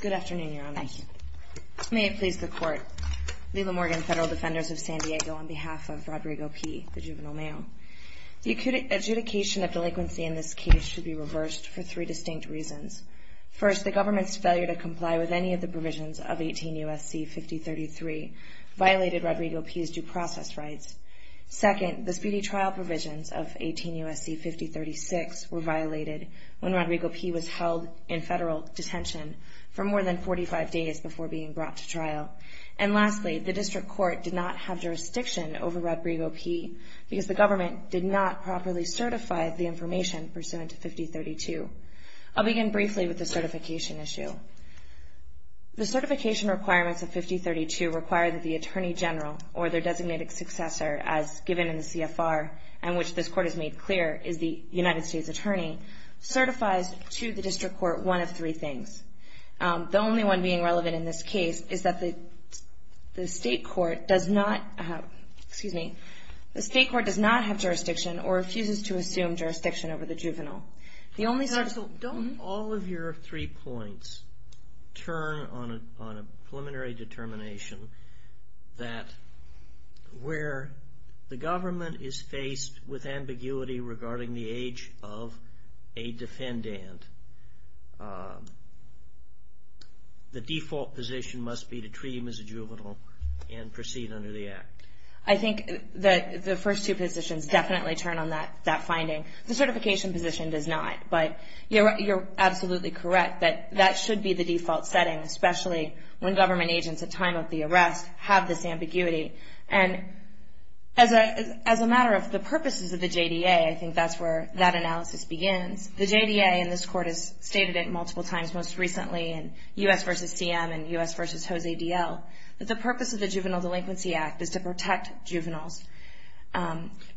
Good afternoon, Your Honor. May it please the Court. Lila Morgan, Federal Defenders of San Diego, on behalf of Rodrigo P., the Juvenile Mayo. The adjudication of delinquency in this case should be reversed for three distinct reasons. First, the government's failure to comply with any of the provisions of 18 U.S.C. 5033 violated Rodrigo P.'s due process rights. Second, the speedy trial provisions of 18 U.S.C. 5036 were violated when Rodrigo P. was held in federal detention for more than 45 days before being brought to trial. And lastly, the District Court did not have jurisdiction over Rodrigo P. because the government did not properly certify the information pursuant to 5032. I'll begin briefly with the certification issue. The certification requirements of 5032 require that the Attorney General or their designated successor, as given in the CFR and which this Court has made clear, is the United States Attorney, certifies to the District Court one of three things. The only one being relevant in this case is that the State Court does not have jurisdiction or refuses to assume jurisdiction over the juvenile. Don't all of your three points turn on a preliminary determination that where the government is faced with ambiguity regarding the age of a defendant, the default position must be to treat him as a juvenile and proceed under the Act? I think the first two positions definitely turn on that finding. The certification position does not, but you're absolutely correct that that should be the default setting, especially when government agents at time of the arrest have this ambiguity. And as a matter of the purposes of the JDA, I think that's where that analysis begins. The JDA, and this Court has stated it multiple times most recently in U.S. v. CM and U.S. v. Jose D.L., that the purpose of the Juvenile Delinquency Act is to protect juveniles.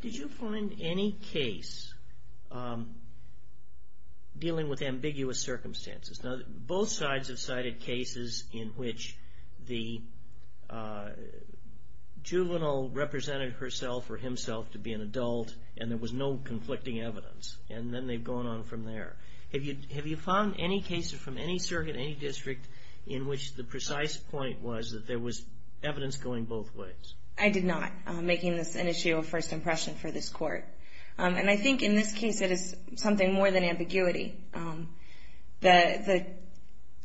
Did you find any case dealing with ambiguous circumstances? Both sides have cited cases in which the juvenile represented herself or himself to be an adult, and there was no conflicting evidence, and then they've gone on from there. Have you found any cases from any circuit, any district, in which the precise point was that there was evidence going both ways? I did not, making this an issue of first impression for this Court. And I think in this case it is something more than ambiguity. The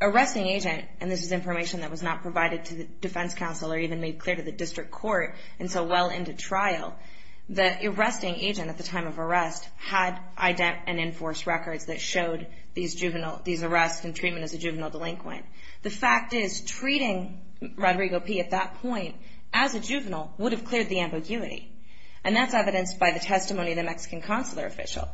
arresting agent, and this is information that was not provided to the defense counsel or even made clear to the district court until well into trial, the arresting agent at the time of arrest had ident and enforced records that showed these arrests and treatment as a juvenile delinquent. The fact is treating Rodrigo P. at that point as a juvenile would have cleared the ambiguity, and that's evidenced by the testimony of the Mexican consular official.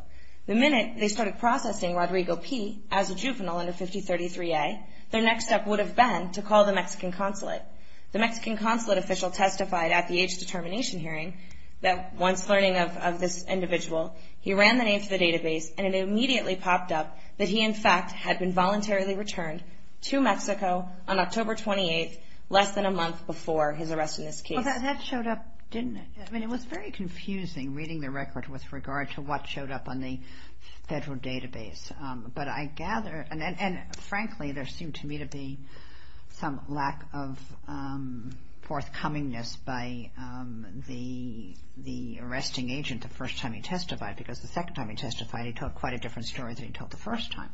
The minute they started processing Rodrigo P. as a juvenile under 5033A, their next step would have been to call the Mexican consulate. The Mexican consulate official testified at the age determination hearing that once learning of this individual, he ran the names of the database, and it immediately popped up that he, in fact, had been voluntarily returned to Mexico on October 28th, less than a month before his arrest in this case. Well, that showed up, didn't it? I mean, it was very confusing reading the record with regard to what showed up on the federal database. But I gather, and frankly, there seemed to me to be some lack of forthcomingness by the arresting agent the first time he testified, because the second time he testified, he told quite a different story than he told the first time.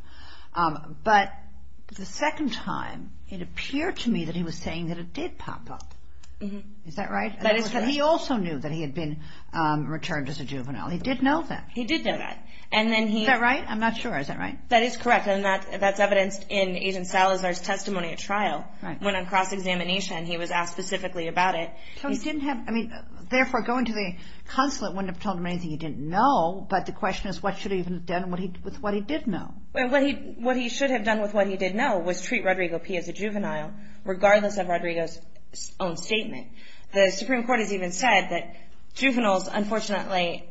But the second time, it appeared to me that he was saying that it did pop up. Is that right? He also knew that he had been returned as a juvenile. He did know that. He did know that. Is that right? I'm not sure. Is that right? That is correct, and that's evidenced in Agent Salazar's testimony at trial. Right. Went on cross-examination. He was asked specifically about it. So he didn't have – I mean, therefore, going to the consulate wouldn't have told him anything he didn't know, but the question is what should he have done with what he did know. Well, what he should have done with what he did know was treat Rodrigo P. as a juvenile, regardless of Rodrigo's own statement. The Supreme Court has even said that juveniles, unfortunately,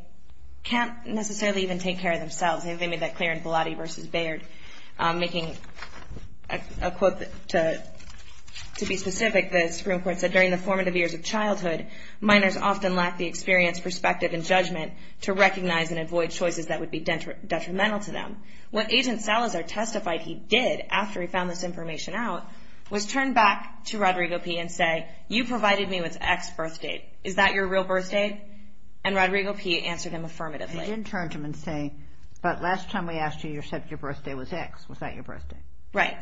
can't necessarily even take care of themselves. They made that clear in Bellotti v. Baird. Making a quote to be specific, the Supreme Court said, during the formative years of childhood, minors often lack the experience, perspective, and judgment to recognize and avoid choices that would be detrimental to them. What Agent Salazar testified he did after he found this information out was turn back to Rodrigo P. and say, you provided me with X birth date. Is that your real birth date? And Rodrigo P. answered him affirmatively. He did turn to him and say, but last time we asked you, you said your birth date was X. Was that your birth date? Right.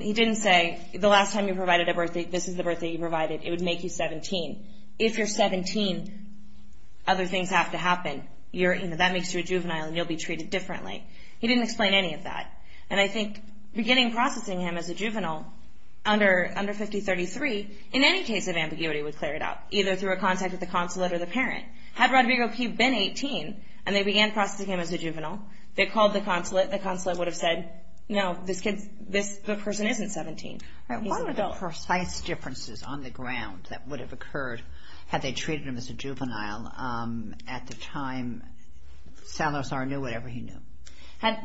He didn't say, the last time you provided a birth date, this is the birth date you provided. It would make you 17. If you're 17, other things have to happen. That makes you a juvenile, and you'll be treated differently. He didn't explain any of that. And I think beginning processing him as a juvenile under 5033, in any case of ambiguity, would clear it out, either through a contact with the consulate or the parent. Had Rodrigo P. been 18, and they began processing him as a juvenile, they called the consulate. The consulate would have said, no, this person isn't 17. What were the precise differences on the ground that would have occurred had they treated him as a juvenile at the time Salazar knew whatever he knew?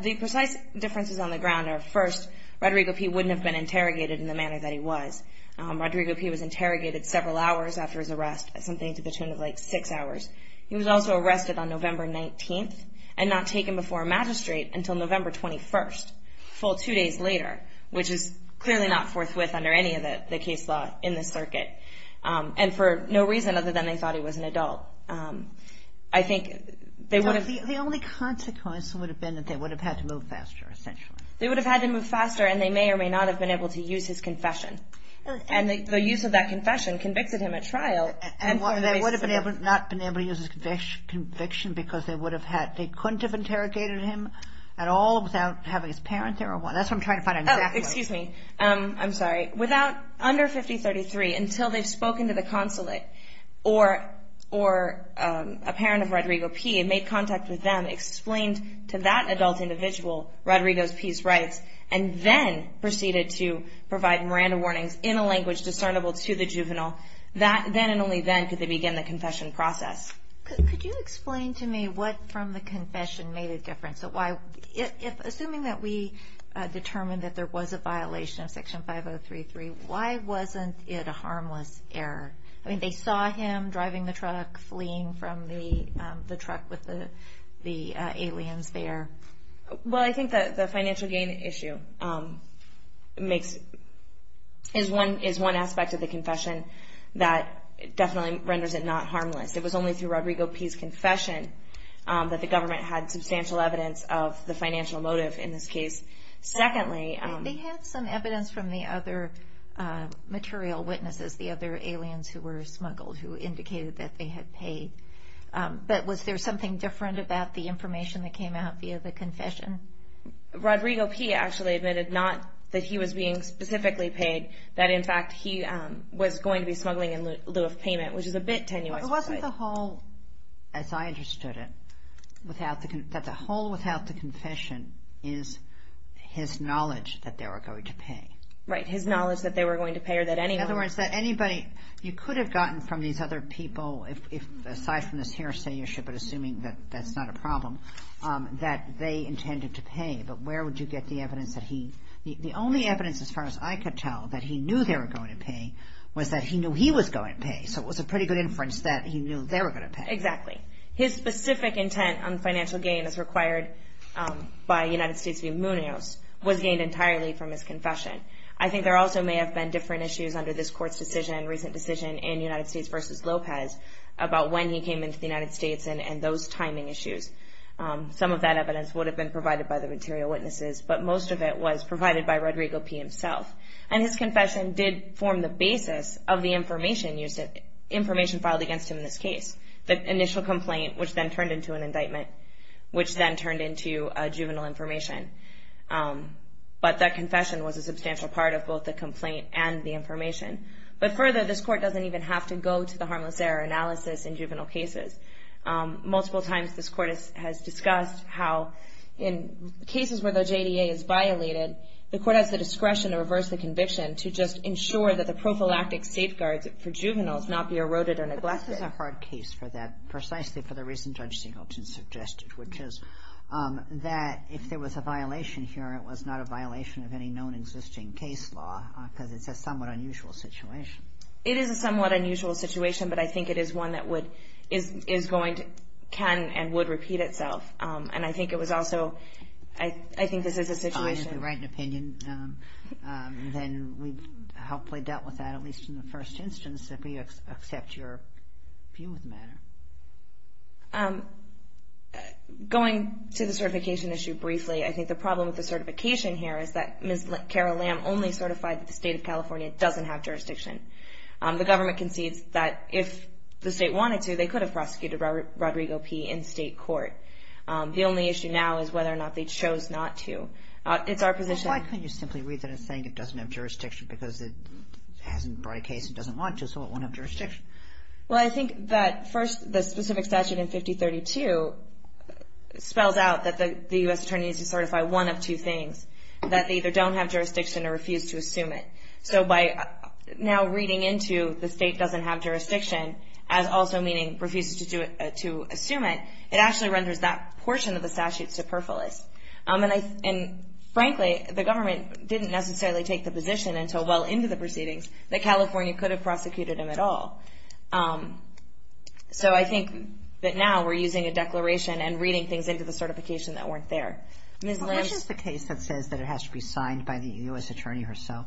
The precise differences on the ground are, first, Rodrigo P. wouldn't have been interrogated in the manner that he was. Rodrigo P. was interrogated several hours after his arrest, something to the tune of like six hours. He was also arrested on November 19th and not taken before a magistrate until November 21st, a full two days later, which is clearly not forthwith under any of the case law in this circuit, and for no reason other than they thought he was an adult. I think they would have been. The only consequence would have been that they would have had to move faster, essentially. They would have had to move faster, and they may or may not have been able to use his confession. And the use of that confession convicted him at trial. And they would have not been able to use his conviction because they couldn't have interrogated him at all without having his parents there or what? That's what I'm trying to find out exactly. Oh, excuse me. I'm sorry. Under 5033, until they've spoken to the consulate or a parent of Rodrigo P. and made contact with them, explained to that adult individual Rodrigo's peace rights, and then proceeded to provide Miranda warnings in a language discernible to the juvenile, then and only then could they begin the confession process. Could you explain to me what from the confession made a difference? Assuming that we determined that there was a violation of Section 5033, why wasn't it a harmless error? I mean, they saw him driving the truck, fleeing from the truck with the aliens there. Well, I think the financial gain issue is one aspect of the confession that definitely renders it not harmless. It was only through Rodrigo P.'s confession that the government had substantial evidence of the financial motive in this case. They had some evidence from the other material witnesses, the other aliens who were smuggled, who indicated that they had paid. But was there something different about the information that came out via the confession? Rodrigo P. actually admitted not that he was being specifically paid, that in fact he was going to be smuggling in lieu of payment, which is a bit tenuous. It wasn't the whole, as I understood it, that the whole without the confession is his knowledge that they were going to pay. Right, his knowledge that they were going to pay or that anyone In other words, that anybody, you could have gotten from these other people, aside from this hearsay issue, but assuming that that's not a problem, that they intended to pay, but where would you get the evidence that he The only evidence as far as I could tell that he knew they were going to pay was that he knew he was going to pay. So it was a pretty good inference that he knew they were going to pay. Exactly. His specific intent on financial gain as required by United States v. Munoz was gained entirely from his confession. I think there also may have been different issues under this court's decision, recent decision in United States v. Lopez, about when he came into the United States and those timing issues. Some of that evidence would have been provided by the material witnesses, but most of it was provided by Rodrigo P. himself. And his confession did form the basis of the information filed against him in this case. The initial complaint, which then turned into an indictment, which then turned into juvenile information. But that confession was a substantial part of both the complaint and the information. But further, this court doesn't even have to go to the harmless error analysis in juvenile cases. Multiple times this court has discussed how in cases where the JDA is violated, the court has the discretion to reverse the conviction to just ensure that the prophylactic safeguards for juveniles not be eroded or neglected. I think this is a hard case for that, precisely for the reason Judge Singleton suggested, which is that if there was a violation here, it was not a violation of any known existing case law, because it's a somewhat unusual situation. It is a somewhat unusual situation, but I think it is one that would, is going to, can and would repeat itself. And I think it was also, I think this is a situation. If you're fine, if you write an opinion, then we've helpfully dealt with that, at least in the first instance, if we accept your view of the matter. Going to the certification issue briefly, I think the problem with the certification here is that Ms. Carol Lamb only certified that the state of California doesn't have jurisdiction. The government concedes that if the state wanted to, they could have prosecuted Rodrigo P. in state court. The only issue now is whether or not they chose not to. It's our position. Why couldn't you simply read that as saying it doesn't have jurisdiction, because it hasn't brought a case it doesn't want to, so it won't have jurisdiction? Well, I think that first the specific statute in 5032 spells out that the U.S. attorney needs to certify one of two things, that they either don't have jurisdiction or refuse to assume it. So by now reading into the state doesn't have jurisdiction as also meaning refuses to assume it, it actually renders that portion of the statute superfluous. And frankly, the government didn't necessarily take the position until well into the proceedings that California could have prosecuted him at all. So I think that now we're using a declaration and reading things into the certification that weren't there. Well, which is the case that says that it has to be signed by the U.S. attorney herself?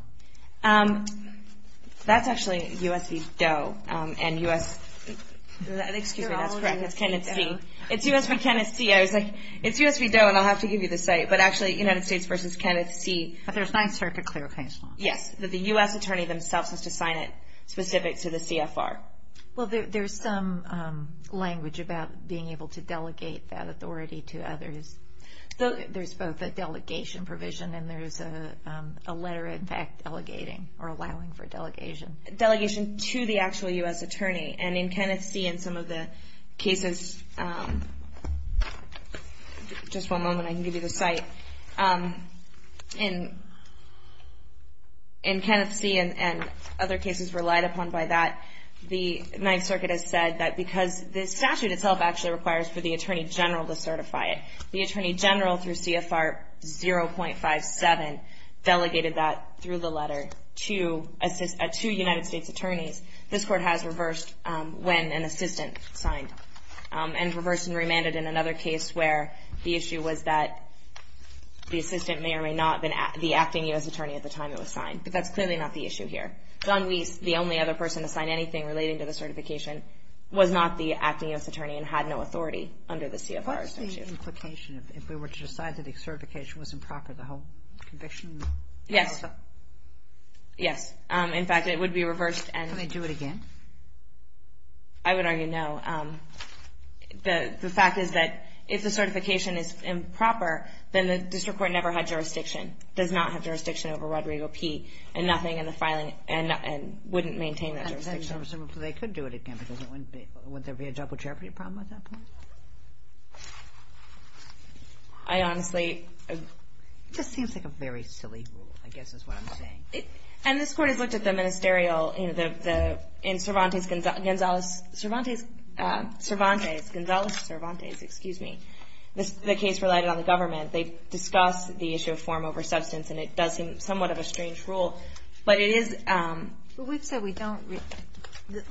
That's actually U.S. v. Doe and U.S. Excuse me, that's correct. That's Kenneth C. It's U.S. v. Kenneth C. I was like, it's U.S. v. Doe and I'll have to give you the site, but actually United States v. Kenneth C. But there's nine-circuit clarification. Yes, that the U.S. attorney themselves has to sign it specific to the CFR. Well, there's some language about being able to delegate that authority to others. There's both a delegation provision and there's a letter, in fact, delegating or allowing for delegation. Delegation to the actual U.S. attorney. And in Kenneth C. and some of the cases, just one moment, I can give you the site. In Kenneth C. and other cases relied upon by that, the ninth circuit has said that because the statute itself actually requires for the attorney general to certify it, the attorney general through CFR 0.57 delegated that through the letter to two United States attorneys. This Court has reversed when an assistant signed. And reversed and remanded in another case where the issue was that the assistant may or may not have been the acting U.S. attorney at the time it was signed. But that's clearly not the issue here. John Weiss, the only other person to sign anything relating to the certification, was not the acting U.S. attorney and had no authority under the CFR statute. If we were to decide that the certification was improper, the whole conviction? Yes. Yes. In fact, it would be reversed. Can they do it again? I would argue no. The fact is that if the certification is improper, then the district court never had jurisdiction, does not have jurisdiction over Rodrigo P. and nothing in the filing and wouldn't maintain the jurisdiction. They could do it again because wouldn't there be a double jeopardy problem at that point? I honestly. It just seems like a very silly rule, I guess is what I'm saying. And this Court has looked at the ministerial, you know, in Cervantes, Gonzales, Cervantes, Cervantes, Gonzales, Cervantes, excuse me, the case related on the government. They discussed the issue of form over substance, and it does seem somewhat of a strange rule. But it is. We've said we don't.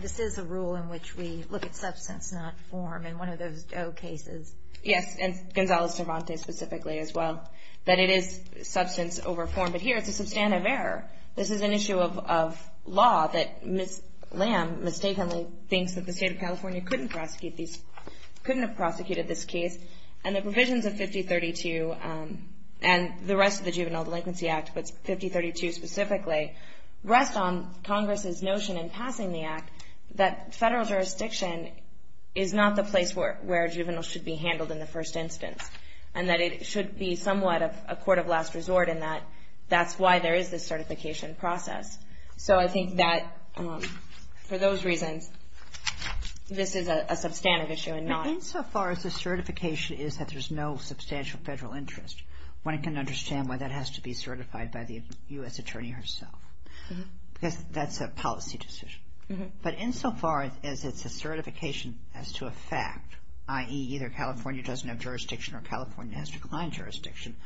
This is a rule in which we look at substance, not form. And one of those cases. Yes, and Gonzales, Cervantes specifically as well, that it is substance over form. But here it's a substantive error. This is an issue of law that Ms. Lamb mistakenly thinks that the state of California couldn't prosecute these, couldn't have prosecuted this case. And the provisions of 5032 and the rest of the Juvenile Delinquency Act, but 5032 specifically, rest on Congress's notion in passing the act that federal jurisdiction is not the place where a juvenile should be handled in the first instance. And that it should be somewhat of a court of last resort in that that's why there is this certification process. So I think that for those reasons, this is a substantive issue and not. Insofar as the certification is that there's no substantial federal interest, one can understand why that has to be certified by the U.S. attorney herself. Because that's a policy decision. But insofar as it's a certification as to a fact, i.e., either California doesn't have jurisdiction or California has declined jurisdiction,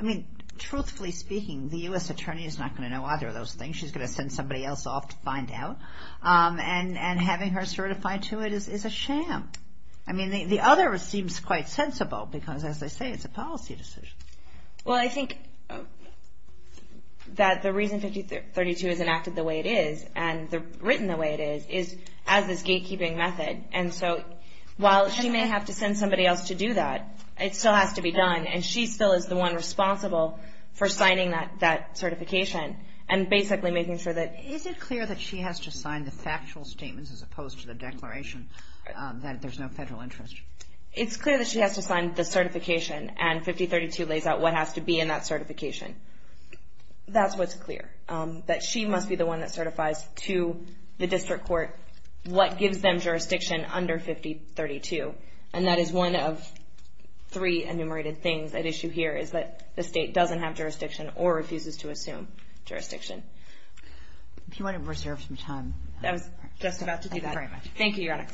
I mean, truthfully speaking, the U.S. attorney is not going to know either of those things. She's going to send somebody else off to find out. And having her certified to it is a sham. I mean, the other seems quite sensible because, as I say, it's a policy decision. Well, I think that the reason 5032 is enacted the way it is and written the way it is, is as this gatekeeping method. And so while she may have to send somebody else to do that, it still has to be done. And she still is the one responsible for signing that certification and basically making sure that. Is it clear that she has to sign the factual statements as opposed to the declaration that there's no federal interest? It's clear that she has to sign the certification, and 5032 lays out what has to be in that certification. That's what's clear, that she must be the one that certifies to the district court what gives them jurisdiction under 5032. And that is one of three enumerated things at issue here, is that the state doesn't have jurisdiction or refuses to assume jurisdiction. If you want to reserve some time. I was just about to do that. Thank you very much. Thank you, Your Honor.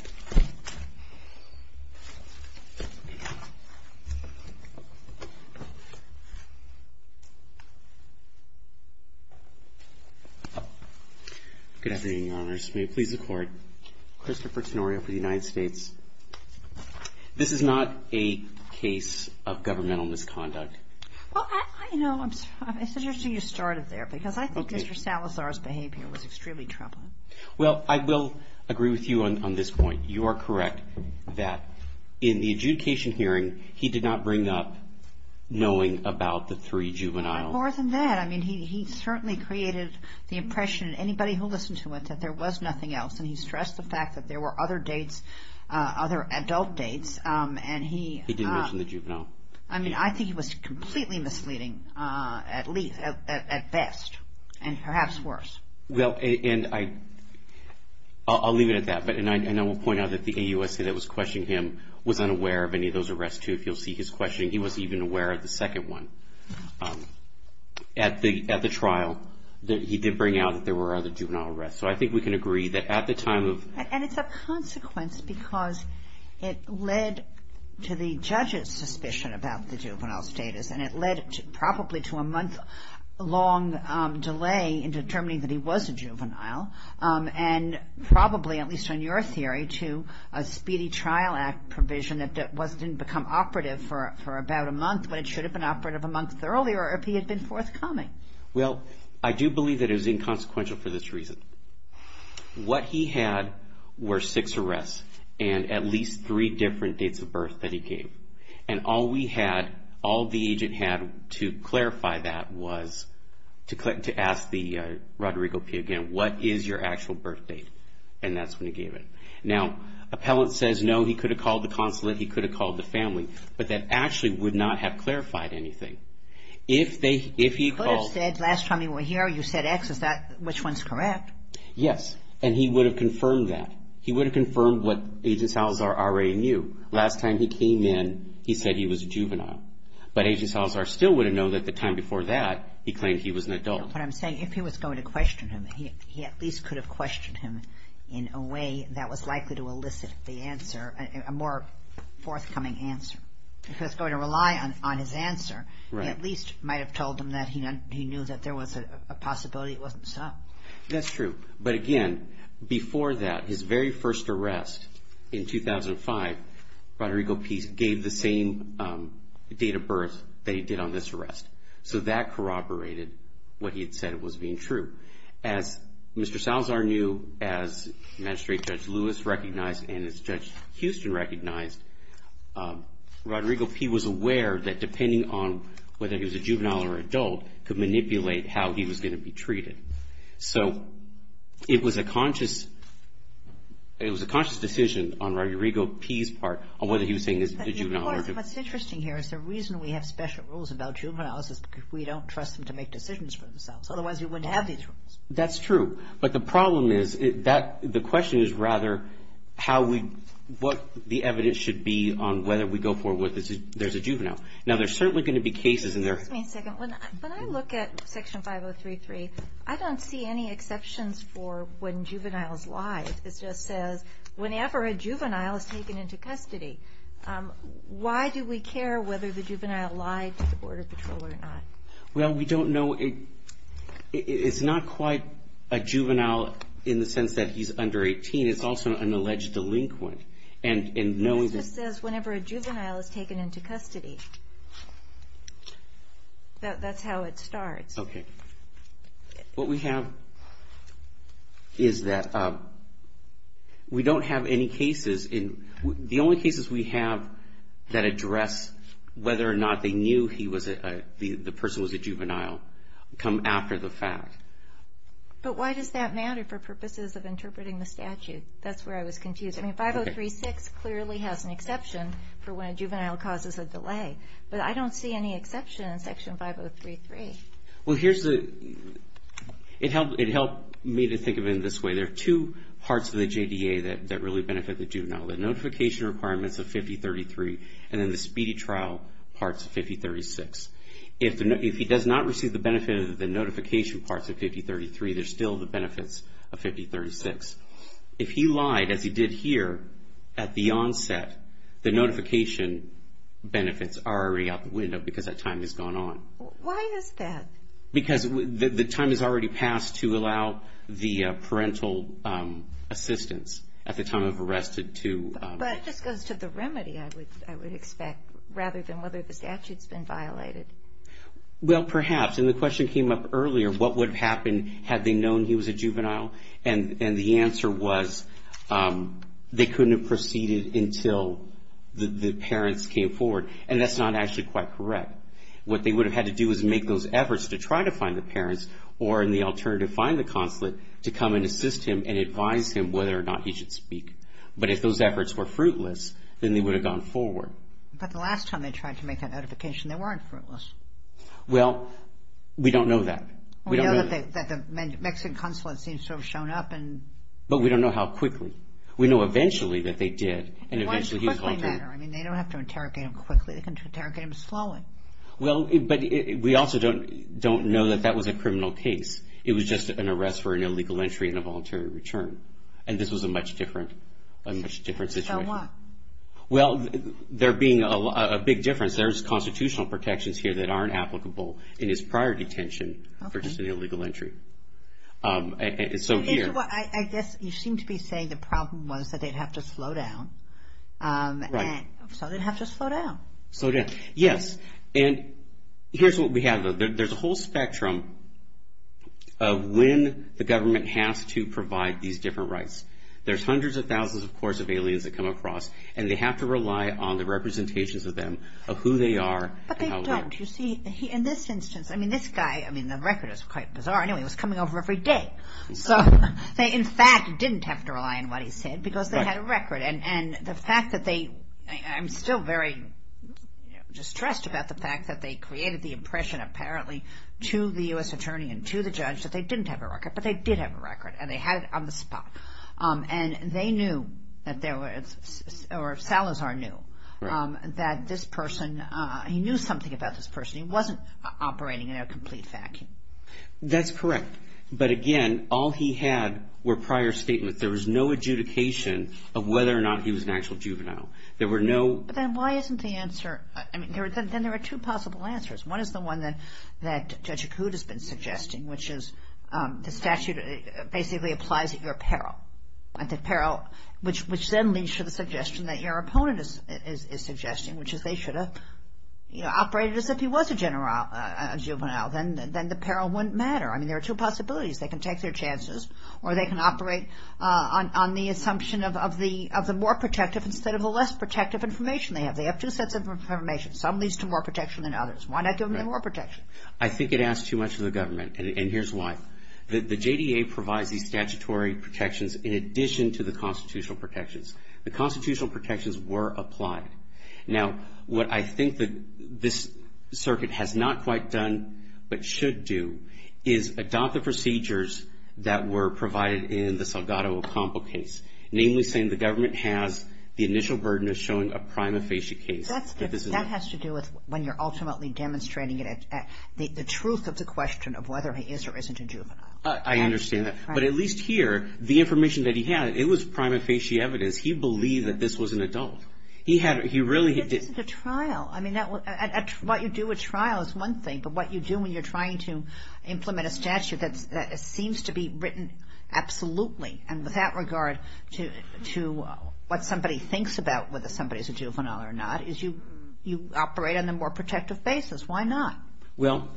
Good afternoon, Your Honors. May it please the Court. Christopher Tenorio for the United States. This is not a case of governmental misconduct. Well, I know. It's interesting you started there, because I think Mr. Salazar's behavior was extremely troubling. Well, I will agree with you on this point. You are correct that in the adjudication hearing, he did not bring up knowing about the three juveniles. More than that. I mean, he certainly created the impression, anybody who listened to it, that there was nothing else. And he stressed the fact that there were other dates, other adult dates. He didn't mention the juvenile. I mean, I think he was completely misleading, at best, and perhaps worse. Well, and I'll leave it at that. And I will point out that the AUSA that was questioning him was unaware of any of those arrests, too. If you'll see his questioning, he wasn't even aware of the second one. At the trial, he did bring out that there were other juvenile arrests. So I think we can agree that at the time of And it's a consequence because it led to the judge's suspicion about the juvenile status. And it led probably to a month-long delay in determining that he was a juvenile. And probably, at least on your theory, to a speedy trial act provision that didn't become operative for about a month when it should have been operative a month earlier if he had been forthcoming. Well, I do believe that it was inconsequential for this reason. What he had were six arrests and at least three different dates of birth that he gave. And all we had, all the agent had to clarify that was to ask the Roderigo P. again, what is your actual birth date? And that's when he gave it. Now, appellant says, no, he could have called the consulate. He could have called the family. But that actually would not have clarified anything. He could have said, last time he was here, you said X. Which one's correct? Yes. And he would have confirmed that. He would have confirmed what Agent Salazar already knew. Last time he came in, he said he was a juvenile. But Agent Salazar still would have known that the time before that, he claimed he was an adult. What I'm saying, if he was going to question him, he at least could have questioned him in a way that was likely to elicit the answer, a more forthcoming answer. If he was going to rely on his answer, he at least might have told him that he knew that there was a possibility it wasn't so. That's true. But, again, before that, his very first arrest in 2005, Rodrigo P. gave the same date of birth that he did on this arrest. So that corroborated what he had said was being true. As Mr. Salazar knew, as Magistrate Judge Lewis recognized, and as Judge Houston recognized, Rodrigo P. was aware that depending on whether he was a juvenile or adult, could manipulate how he was going to be treated. So it was a conscious decision on Rodrigo P.'s part on whether he was saying he was a juvenile or adult. What's interesting here is the reason we have special rules about juveniles is because we don't trust them to make decisions for themselves. Otherwise, we wouldn't have these rules. That's true. But the problem is, the question is rather how we, what the evidence should be on whether we go forward with there's a juvenile. Now, there's certainly going to be cases in there. Excuse me a second. When I look at Section 5033, I don't see any exceptions for when juveniles lie. It just says, whenever a juvenile is taken into custody. Why do we care whether the juvenile lied to the Border Patrol or not? Well, we don't know. It's not quite a juvenile in the sense that he's under 18. It's also an alleged delinquent. It just says whenever a juvenile is taken into custody. That's how it starts. Okay. What we have is that we don't have any cases. The only cases we have that address whether or not they knew the person was a juvenile come after the fact. But why does that matter for purposes of interpreting the statute? That's where I was confused. I mean, 5036 clearly has an exception for when a juvenile causes a delay. But I don't see any exception in Section 5033. Well, here's the, it helped me to think of it in this way. There are two parts of the JDA that really benefit the juvenile. The notification requirements of 5033 and then the speedy trial parts of 5036. If he does not receive the benefit of the notification parts of 5033, there's still the benefits of 5036. If he lied, as he did here at the onset, the notification benefits are already out the window because that time has gone on. Why is that? Because the time has already passed to allow the parental assistance at the time of arrest to. But that just goes to the remedy, I would expect, rather than whether the statute's been violated. Well, perhaps. And the question came up earlier. What would have happened had they known he was a juvenile? And the answer was they couldn't have proceeded until the parents came forward. And that's not actually quite correct. What they would have had to do was make those efforts to try to find the parents or in the alternative find the consulate to come and assist him and advise him whether or not he should speak. But if those efforts were fruitless, then they would have gone forward. But the last time they tried to make that notification, they weren't fruitless. Well, we don't know that. We know that the Mexican consulate seems to have shown up. But we don't know how quickly. We know eventually that they did. Why does quickly matter? I mean, they don't have to interrogate him quickly. They can interrogate him slowly. Well, but we also don't know that that was a criminal case. It was just an arrest for an illegal entry and a voluntary return. And this was a much different situation. So what? Well, there being a big difference, there's constitutional protections here that aren't applicable in his prior detention for just an illegal entry. So here. I guess you seem to be saying the problem was that they'd have to slow down. Right. So they'd have to slow down. Slow down. Yes. And here's what we have. There's a whole spectrum of when the government has to provide these different rights. There's hundreds of thousands, of course, of aliens that come across. And they have to rely on the representations of them of who they are. But they don't. You see, in this instance, I mean, this guy, I mean, the record is quite bizarre. Anyway, he was coming over every day. So they, in fact, didn't have to rely on what he said because they had a record. And the fact that they – I'm still very distressed about the fact that they created the impression, apparently, to the U.S. attorney and to the judge that they didn't have a record. But they did have a record. And they had it on the spot. And they knew that there was – or Salazar knew that this person – he knew something about this person. He wasn't operating in a complete vacuum. That's correct. But, again, all he had were prior statements. There was no adjudication of whether or not he was an actual juvenile. There were no – Then why isn't the answer – I mean, then there are two possible answers. One is the one that Judge Accoud has been suggesting, which is the statute basically applies at your peril. At the peril, which then leads to the suggestion that your opponent is suggesting, which is they should have operated as if he was a juvenile. Then the peril wouldn't matter. I mean, there are two possibilities. They can take their chances or they can operate on the assumption of the more protective instead of the less protective information they have. They have two sets of information. Some leads to more protection than others. Why not give them the more protection? I think it asks too much of the government. And here's why. The JDA provides these statutory protections in addition to the constitutional protections. The constitutional protections were applied. Now, what I think that this circuit has not quite done but should do is adopt the procedures that were provided in the Salgado Ocampo case, namely saying the government has the initial burden of showing a prima facie case. But that has to do with when you're ultimately demonstrating the truth of the question of whether he is or isn't a juvenile. I understand that. But at least here, the information that he had, it was prima facie evidence. He believed that this was an adult. He really did. This isn't a trial. I mean, what you do at trial is one thing, but what you do when you're trying to implement a statute that seems to be written absolutely, and with that regard to what somebody thinks about whether somebody is a juvenile or not, is you operate on a more protective basis. Why not? Well,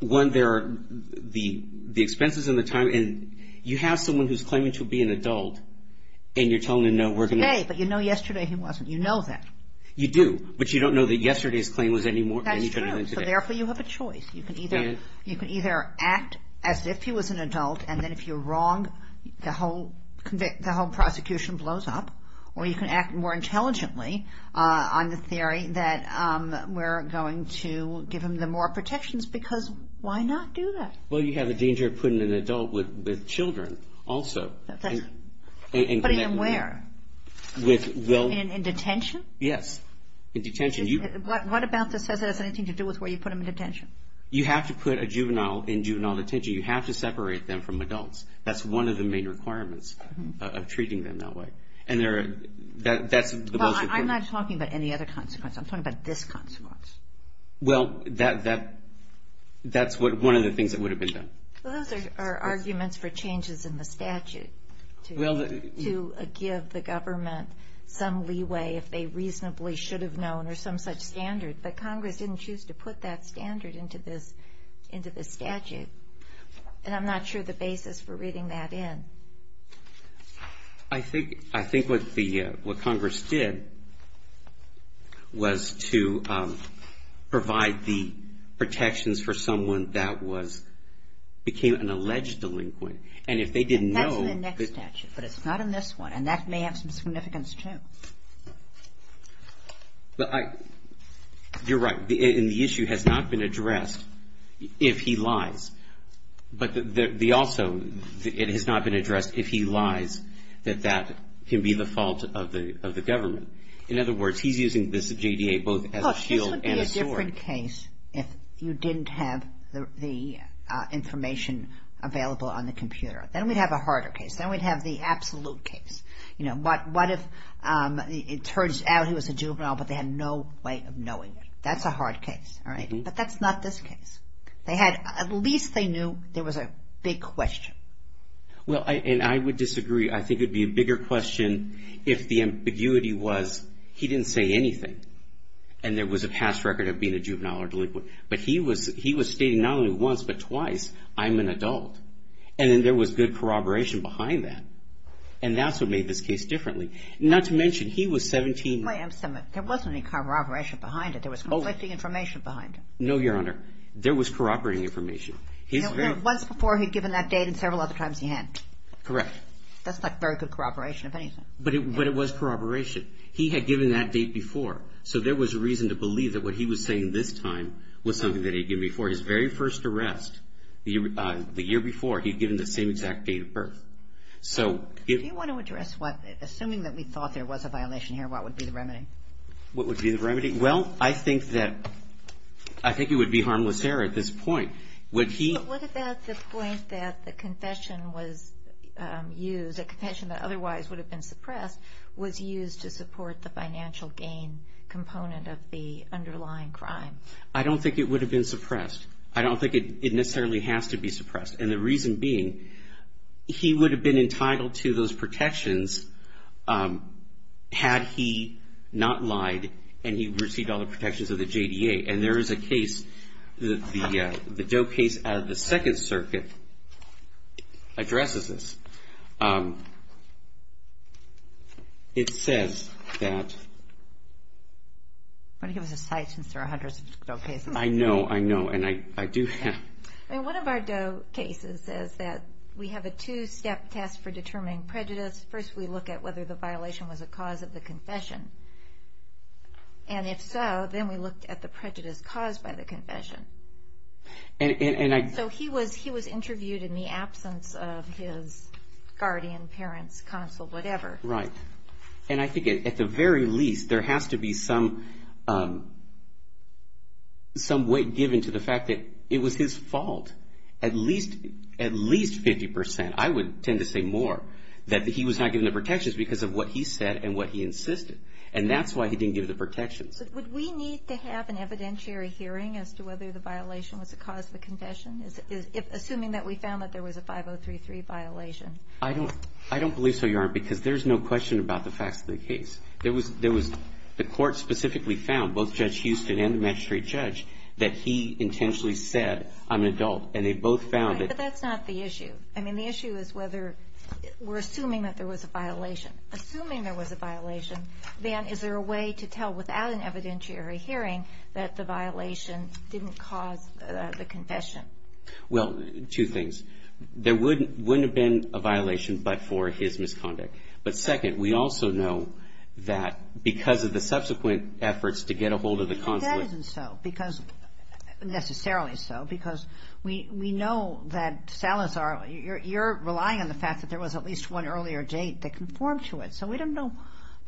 one, there are the expenses and the time. And you have someone who's claiming to be an adult, and you're telling them no. Today, but you know yesterday he wasn't. You know that. You do. But you don't know that yesterday's claim was any different than today. That is true. So therefore, you have a choice. You can either act as if he was an adult, and then if you're wrong, the whole prosecution blows up, or you can act more intelligently on the theory that we're going to give him the more protections, because why not do that? Well, you have a danger of putting an adult with children also. Putting him where? In detention? Yes, in detention. What about this has anything to do with where you put him in detention? You have to put a juvenile in juvenile detention. You have to separate them from adults. That's one of the main requirements of treating them that way. And that's the most important. Well, I'm not talking about any other consequence. I'm talking about this consequence. Well, that's one of the things that would have been done. Well, those are arguments for changes in the statute to give the government some leeway, if they reasonably should have known, or some such standard. But Congress didn't choose to put that standard into this statute. And I'm not sure the basis for reading that in. I think what Congress did was to provide the protections for someone that became an alleged delinquent. And if they didn't know. That's in the next statute, but it's not in this one. And that may have some significance, too. You're right. And the issue has not been addressed if he lies. But also, it has not been addressed if he lies, that that can be the fault of the government. In other words, he's using this JDA both as a shield and a sword. Well, this would be a different case if you didn't have the information available on the computer. Then we'd have a harder case. Then we'd have the absolute case. You know, what if it turns out he was a juvenile, but they had no way of knowing? That's a hard case. But that's not this case. At least they knew there was a big question. Well, and I would disagree. I think it would be a bigger question if the ambiguity was he didn't say anything, and there was a past record of being a juvenile or delinquent. But he was stating not only once, but twice, I'm an adult. And then there was good corroboration behind that. And that's what made this case differently. Not to mention, he was 17. There wasn't any corroboration behind it. There was conflicting information behind it. No, Your Honor. There was corroborating information. Once before, he'd given that date, and several other times he hadn't. Correct. That's not very good corroboration of anything. But it was corroboration. He had given that date before. So there was reason to believe that what he was saying this time was something that he'd given before. For his very first arrest, the year before, he'd given the same exact date of birth. Do you want to address what, assuming that we thought there was a violation here, what would be the remedy? What would be the remedy? Well, I think it would be harmless error at this point. But what about the point that the confession was used, a confession that otherwise would have been suppressed, was used to support the financial gain component of the underlying crime? I don't think it would have been suppressed. I don't think it necessarily has to be suppressed. And the reason being, he would have been entitled to those protections had he not lied and he received all the protections of the JDA. And there is a case, the Doe case out of the Second Circuit, addresses this. And it says that... I want to give us a site since there are hundreds of Doe cases. I know, I know, and I do have... One of our Doe cases says that we have a two-step test for determining prejudice. First, we look at whether the violation was a cause of the confession. And if so, then we looked at the prejudice caused by the confession. And I... So he was interviewed in the absence of his guardian, parents, counsel, whatever. Right. And I think at the very least, there has to be some weight given to the fact that it was his fault. At least 50%, I would tend to say more, that he was not given the protections because of what he said and what he insisted. And that's why he didn't give the protections. But would we need to have an evidentiary hearing as to whether the violation was a cause of the confession, assuming that we found that there was a 5033 violation? I don't believe so, Your Honor, because there's no question about the facts of the case. There was the court specifically found, both Judge Houston and the magistrate judge, that he intentionally said, I'm an adult. And they both found that... Right, but that's not the issue. Assuming there was a violation, then is there a way to tell without an evidentiary hearing that the violation didn't cause the confession? Well, two things. There wouldn't have been a violation but for his misconduct. But second, we also know that because of the subsequent efforts to get a hold of the consulate... But that isn't so, because... necessarily so. Because we know that Salazar, you're relying on the fact that there was at least one earlier date that conformed to it. So we don't know. I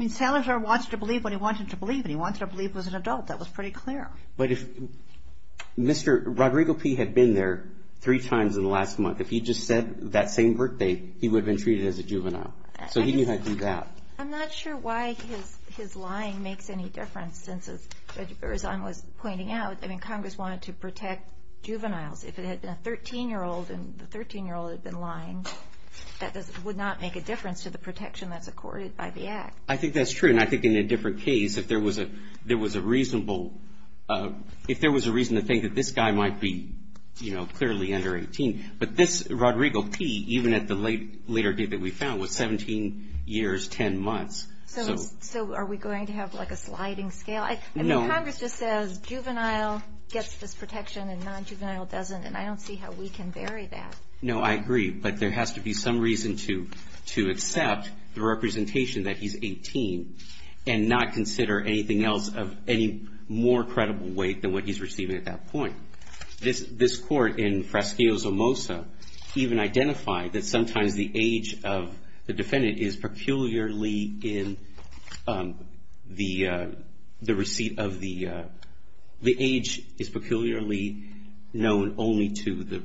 mean, Salazar wanted to believe what he wanted to believe, and he wanted to believe it was an adult. That was pretty clear. But if Mr. Rodrigo P. had been there three times in the last month, if he just said that same birthday, he would have been treated as a juvenile. So he knew how to do that. I'm not sure why his lying makes any difference, since, as Judge Berrizon was pointing out, I mean, Congress wanted to protect juveniles. If it had been a 13-year-old, and the 13-year-old had been lying, that would not make a difference to the protection that's accorded by the Act. I think that's true. And I think in a different case, if there was a reason to think that this guy might be clearly under 18. But this Rodrigo P., even at the later date that we found, was 17 years, 10 months. So are we going to have like a sliding scale? No. Congress just says juvenile gets this protection and nonjuvenile doesn't. And I don't see how we can vary that. No, I agree. But there has to be some reason to accept the representation that he's 18 and not consider anything else of any more credible weight than what he's receiving at that point. This Court in Frasco's Omosa even identified that sometimes the age of the defendant is peculiarly in the receipt of the – the age is peculiarly known only to the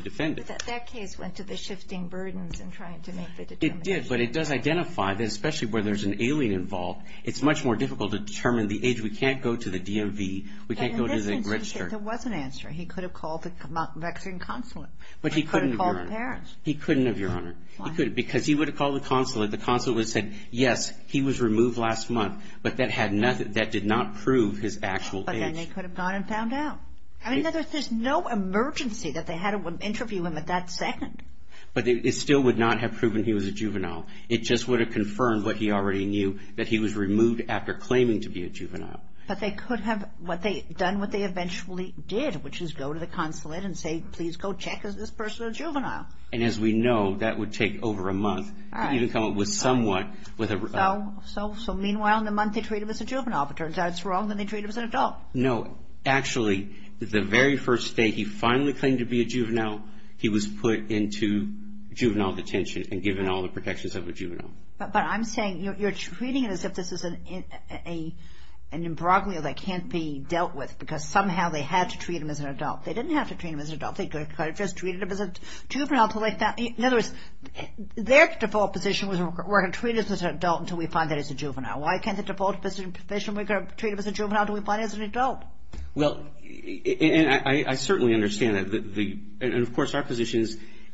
defendant. But that case went to the shifting burdens in trying to make the determination. It did, but it does identify that, especially where there's an alien involved, it's much more difficult to determine the age. We can't go to the DMV. We can't go to the registrar. There was an answer. He could have called the Mexican consulate. But he couldn't have, Your Honor. He could have called the parents. He couldn't have, Your Honor. Why not? Because he would have called the consulate. The consulate would have said, yes, he was removed last month, but that did not prove his actual age. But then they could have gone and found out. I mean, there's no emergency that they had to interview him at that second. But it still would not have proven he was a juvenile. It just would have confirmed what he already knew, that he was removed after claiming to be a juvenile. But they could have done what they eventually did, which is go to the consulate and say, please go check, is this person a juvenile? And as we know, that would take over a month to even come up with somewhat. So, meanwhile, in a month they treat him as a juvenile. It turns out it's wrong that they treat him as an adult. No. Actually, the very first day he finally claimed to be a juvenile, he was put into juvenile detention and given all the protections of a juvenile. But I'm saying you're treating it as if this is an imbroglio that can't be dealt with because somehow they had to treat him as an adult. They didn't have to treat him as an adult. They could have just treated him as a juvenile. In other words, their default position was we're going to treat him as an adult until we find that he's a juvenile. Why can't the default position, we're going to treat him as a juvenile until we find he's an adult? Well, and I certainly understand that. And, of course, our position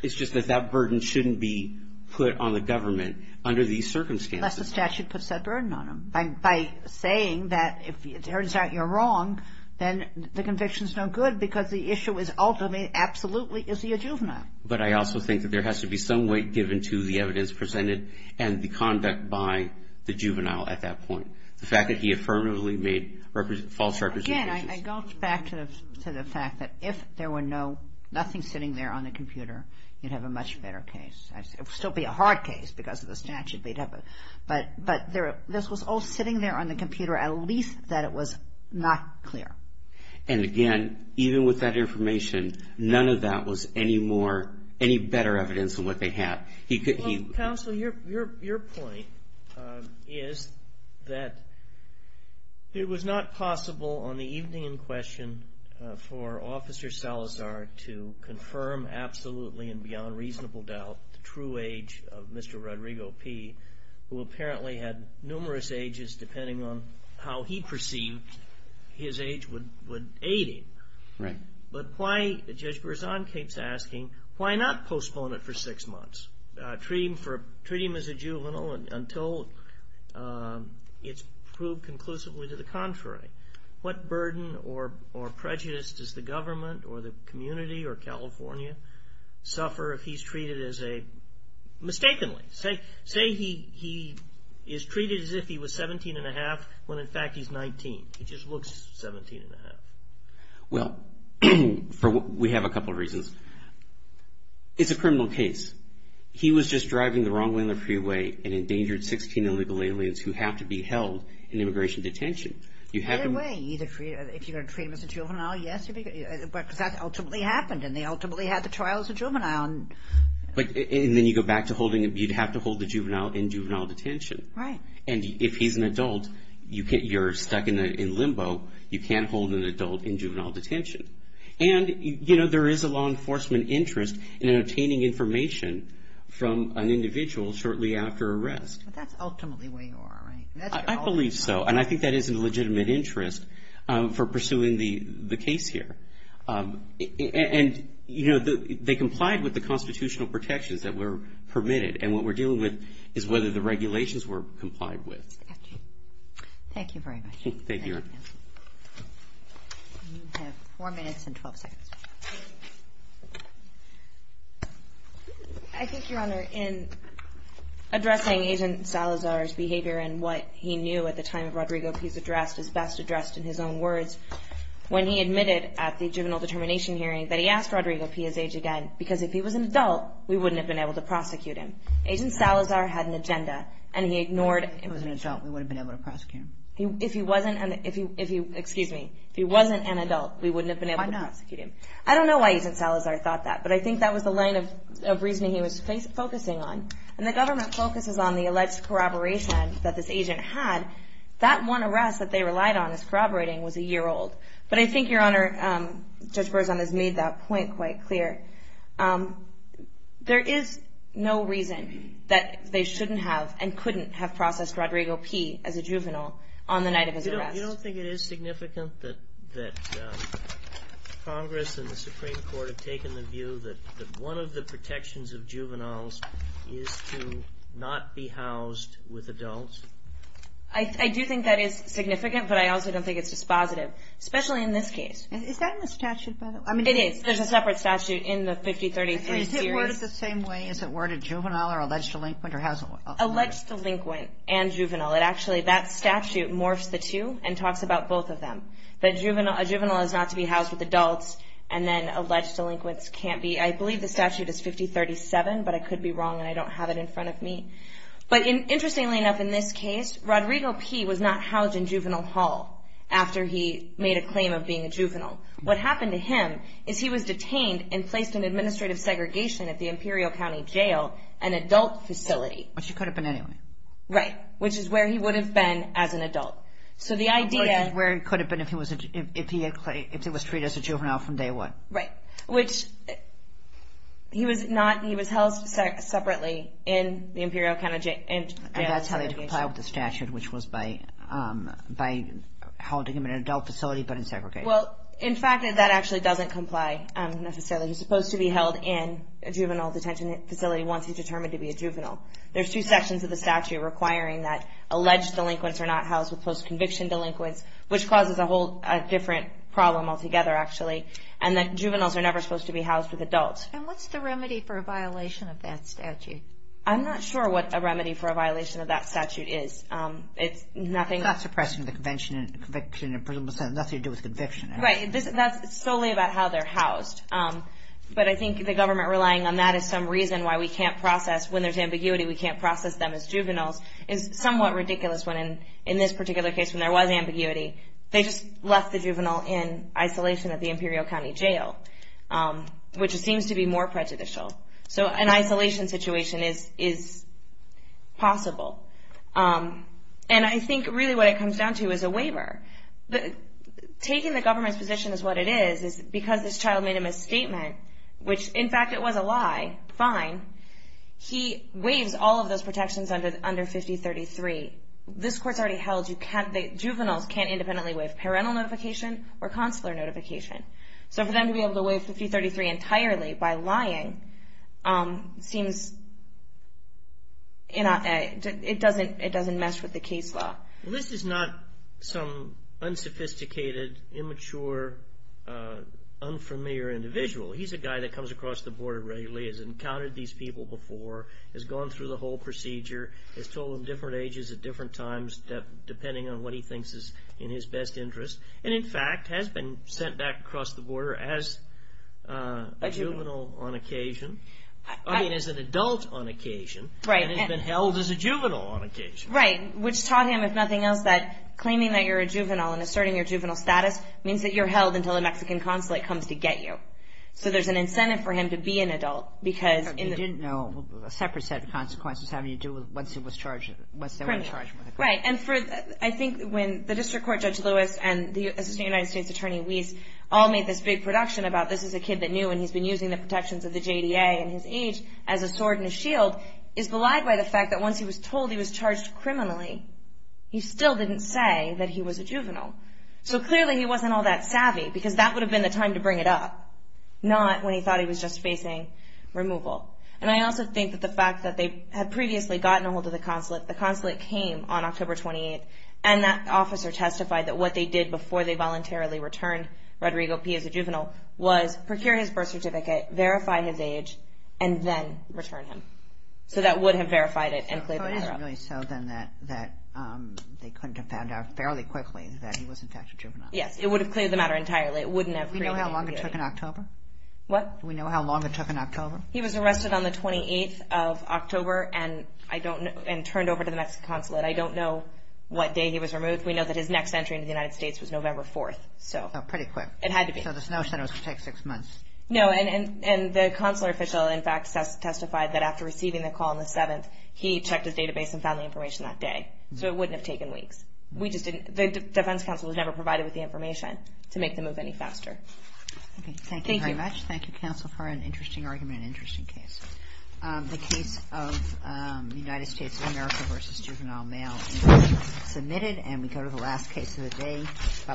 is just that that burden shouldn't be put on the government under these circumstances. Unless the statute puts that burden on them. By saying that if it turns out you're wrong, then the conviction's no good because the issue is ultimately, absolutely, is he a juvenile. But I also think that there has to be some weight given to the evidence presented and the conduct by the juvenile at that point. The fact that he affirmatively made false representations. Again, I go back to the fact that if there were nothing sitting there on the computer, you'd have a much better case. It would still be a hard case because of the statute. But this was all sitting there on the computer, at least that it was not clear. And, again, even with that information, none of that was any better evidence than what they had. Counsel, your point is that it was not possible on the evening in question for Officer Salazar to confirm absolutely and beyond reasonable doubt the true age of Mr. Rodrigo P., who apparently had numerous ages depending on how he perceived his age would aid him. Right. But why, Judge Berzon keeps asking, why not postpone it for six months, treat him as a juvenile until it's proved conclusively to the contrary? What burden or prejudice does the government or the community or California suffer if he's treated as a, mistakenly. Say he is treated as if he was 17 1⁄2 when, in fact, he's 19. He just looks 17 1⁄2. Well, we have a couple of reasons. It's a criminal case. He was just driving the wrong lane of freeway and endangered 16 illegal aliens who have to be held in immigration detention. Either way, if you're going to treat him as a juvenile, yes, because that ultimately happened and they ultimately had the trial as a juvenile. And then you'd have to hold the juvenile in juvenile detention. Right. And if he's an adult, you're stuck in limbo. You can't hold an adult in juvenile detention. And, you know, there is a law enforcement interest in obtaining information from an individual shortly after arrest. But that's ultimately where you are, right? I believe so. And I think that is a legitimate interest for pursuing the case here. And, you know, they complied with the constitutional protections that were permitted. And what we're dealing with is whether the regulations were complied with. Thank you very much. Thank you. You have four minutes and 12 seconds. I think, Your Honor, in addressing Agent Salazar's behavior and what he knew at the time of Rodrigo P.'s address is best addressed in his own words. When he admitted at the juvenile determination hearing that he asked Rodrigo P. his age again because if he was an adult, we wouldn't have been able to prosecute him. Agent Salazar had an agenda, and he ignored it. If he was an adult, we wouldn't have been able to prosecute him. If he wasn't an adult, we wouldn't have been able to prosecute him. I don't know why Agent Salazar thought that, but I think that was the line of reasoning he was focusing on. And the government focuses on the alleged corroboration that this agent had. That one arrest that they relied on as corroborating was a year old. But I think, Your Honor, Judge Berzon has made that point quite clear. There is no reason that they shouldn't have and couldn't have processed Rodrigo P. as a juvenile on the night of his arrest. You don't think it is significant that Congress and the Supreme Court have taken the view that one of the protections of juveniles is to not be housed with adults? I do think that is significant, but I also don't think it's dispositive, especially in this case. Is that in the statute, by the way? It is. There's a separate statute in the 5033 series. Is it worded the same way? Is it worded juvenile or alleged delinquent? Alleged delinquent and juvenile. Actually, that statute morphs the two and talks about both of them. A juvenile is not to be housed with adults, and then alleged delinquents can't be. I believe the statute is 5037, but I could be wrong, and I don't have it in front of me. Interestingly enough, in this case, Rodrigo P. was not housed in Juvenile Hall after he made a claim of being a juvenile. What happened to him is he was detained and placed in administrative segregation at the Imperial County Jail, an adult facility. Which he could have been anyway. Right, which is where he would have been as an adult. Which is where he could have been if he was treated as a juvenile from day one. Right, which he was housed separately in the Imperial County Jail. And that's how they'd comply with the statute, which was by holding him in an adult facility but in segregation. Well, in fact, that actually doesn't comply necessarily. He's supposed to be held in a juvenile detention facility once he's determined to be a juvenile. There's two sections of the statute requiring that alleged delinquents are not housed with post-conviction delinquents, which causes a whole different problem altogether, actually. And that juveniles are never supposed to be housed with adults. And what's the remedy for a violation of that statute? I'm not sure what a remedy for a violation of that statute is. It's not suppressing the conviction and nothing to do with conviction. Right, that's solely about how they're housed. But I think the government relying on that as some reason why we can't process when there's ambiguity, we can't process them as juveniles, is somewhat ridiculous in this particular case when there was ambiguity. They just left the juvenile in isolation at the Imperial County Jail, which seems to be more prejudicial. So an isolation situation is possible. And I think really what it comes down to is a waiver. Taking the government's position as what it is, is because this child made a misstatement, which in fact it was a lie, fine, he waives all of those protections under 5033. This court's already held that juveniles can't independently waive parental notification or consular notification. So for them to be able to waive 5033 entirely by lying, it doesn't mess with the case law. Well, this is not some unsophisticated, immature, unfamiliar individual. He's a guy that comes across the border regularly, has encountered these people before, has gone through the whole procedure, has told them different ages at different times, depending on what he thinks is in his best interest, and in fact has been sent back across the border as a juvenile on occasion, I mean as an adult on occasion, and has been held as a juvenile on occasion. Right, which taught him, if nothing else, that claiming that you're a juvenile and asserting your juvenile status means that you're held until a Mexican consulate comes to get you. So there's an incentive for him to be an adult. He didn't know a separate set of consequences having to do with once they were charged with a crime. Right, and I think when the District Court Judge Lewis and the Assistant United States Attorney Weiss all made this big production about this is a kid that knew and he's been using the protections of the JDA and his age as a sword and a shield, is belied by the fact that once he was told he was charged criminally, he still didn't say that he was a juvenile. So clearly he wasn't all that savvy, because that would have been the time to bring it up, not when he thought he was just facing removal. And I also think that the fact that they had previously gotten a hold of the consulate, the consulate came on October 28th, and that officer testified that what they did before they voluntarily returned Rodrigo P as a juvenile was procure his birth certificate, verify his age, and then return him. So that would have verified it and cleared the matter up. So it is really so then that they couldn't have found out fairly quickly that he was in fact a juvenile. Yes, it would have cleared the matter entirely. It wouldn't have created any ambiguity. Do we know how long it took in October? What? Do we know how long it took in October? He was arrested on the 28th of October and turned over to the Mexican consulate. I don't know what day he was removed. We know that his next entry into the United States was November 4th. So pretty quick. It had to be. So the Snow Center was to take six months. No, and the consular official, in fact, testified that after receiving the call on the 7th, he checked his database and found the information that day. So it wouldn't have taken weeks. The defense counsel was never provided with the information to make the move any faster. Okay, thank you very much. Thank you. Thank you, counsel, for an interesting argument and interesting case. The case of the United States of America v. Juvenile Mail has been submitted, and we go to the last case of the day. Bye-bye.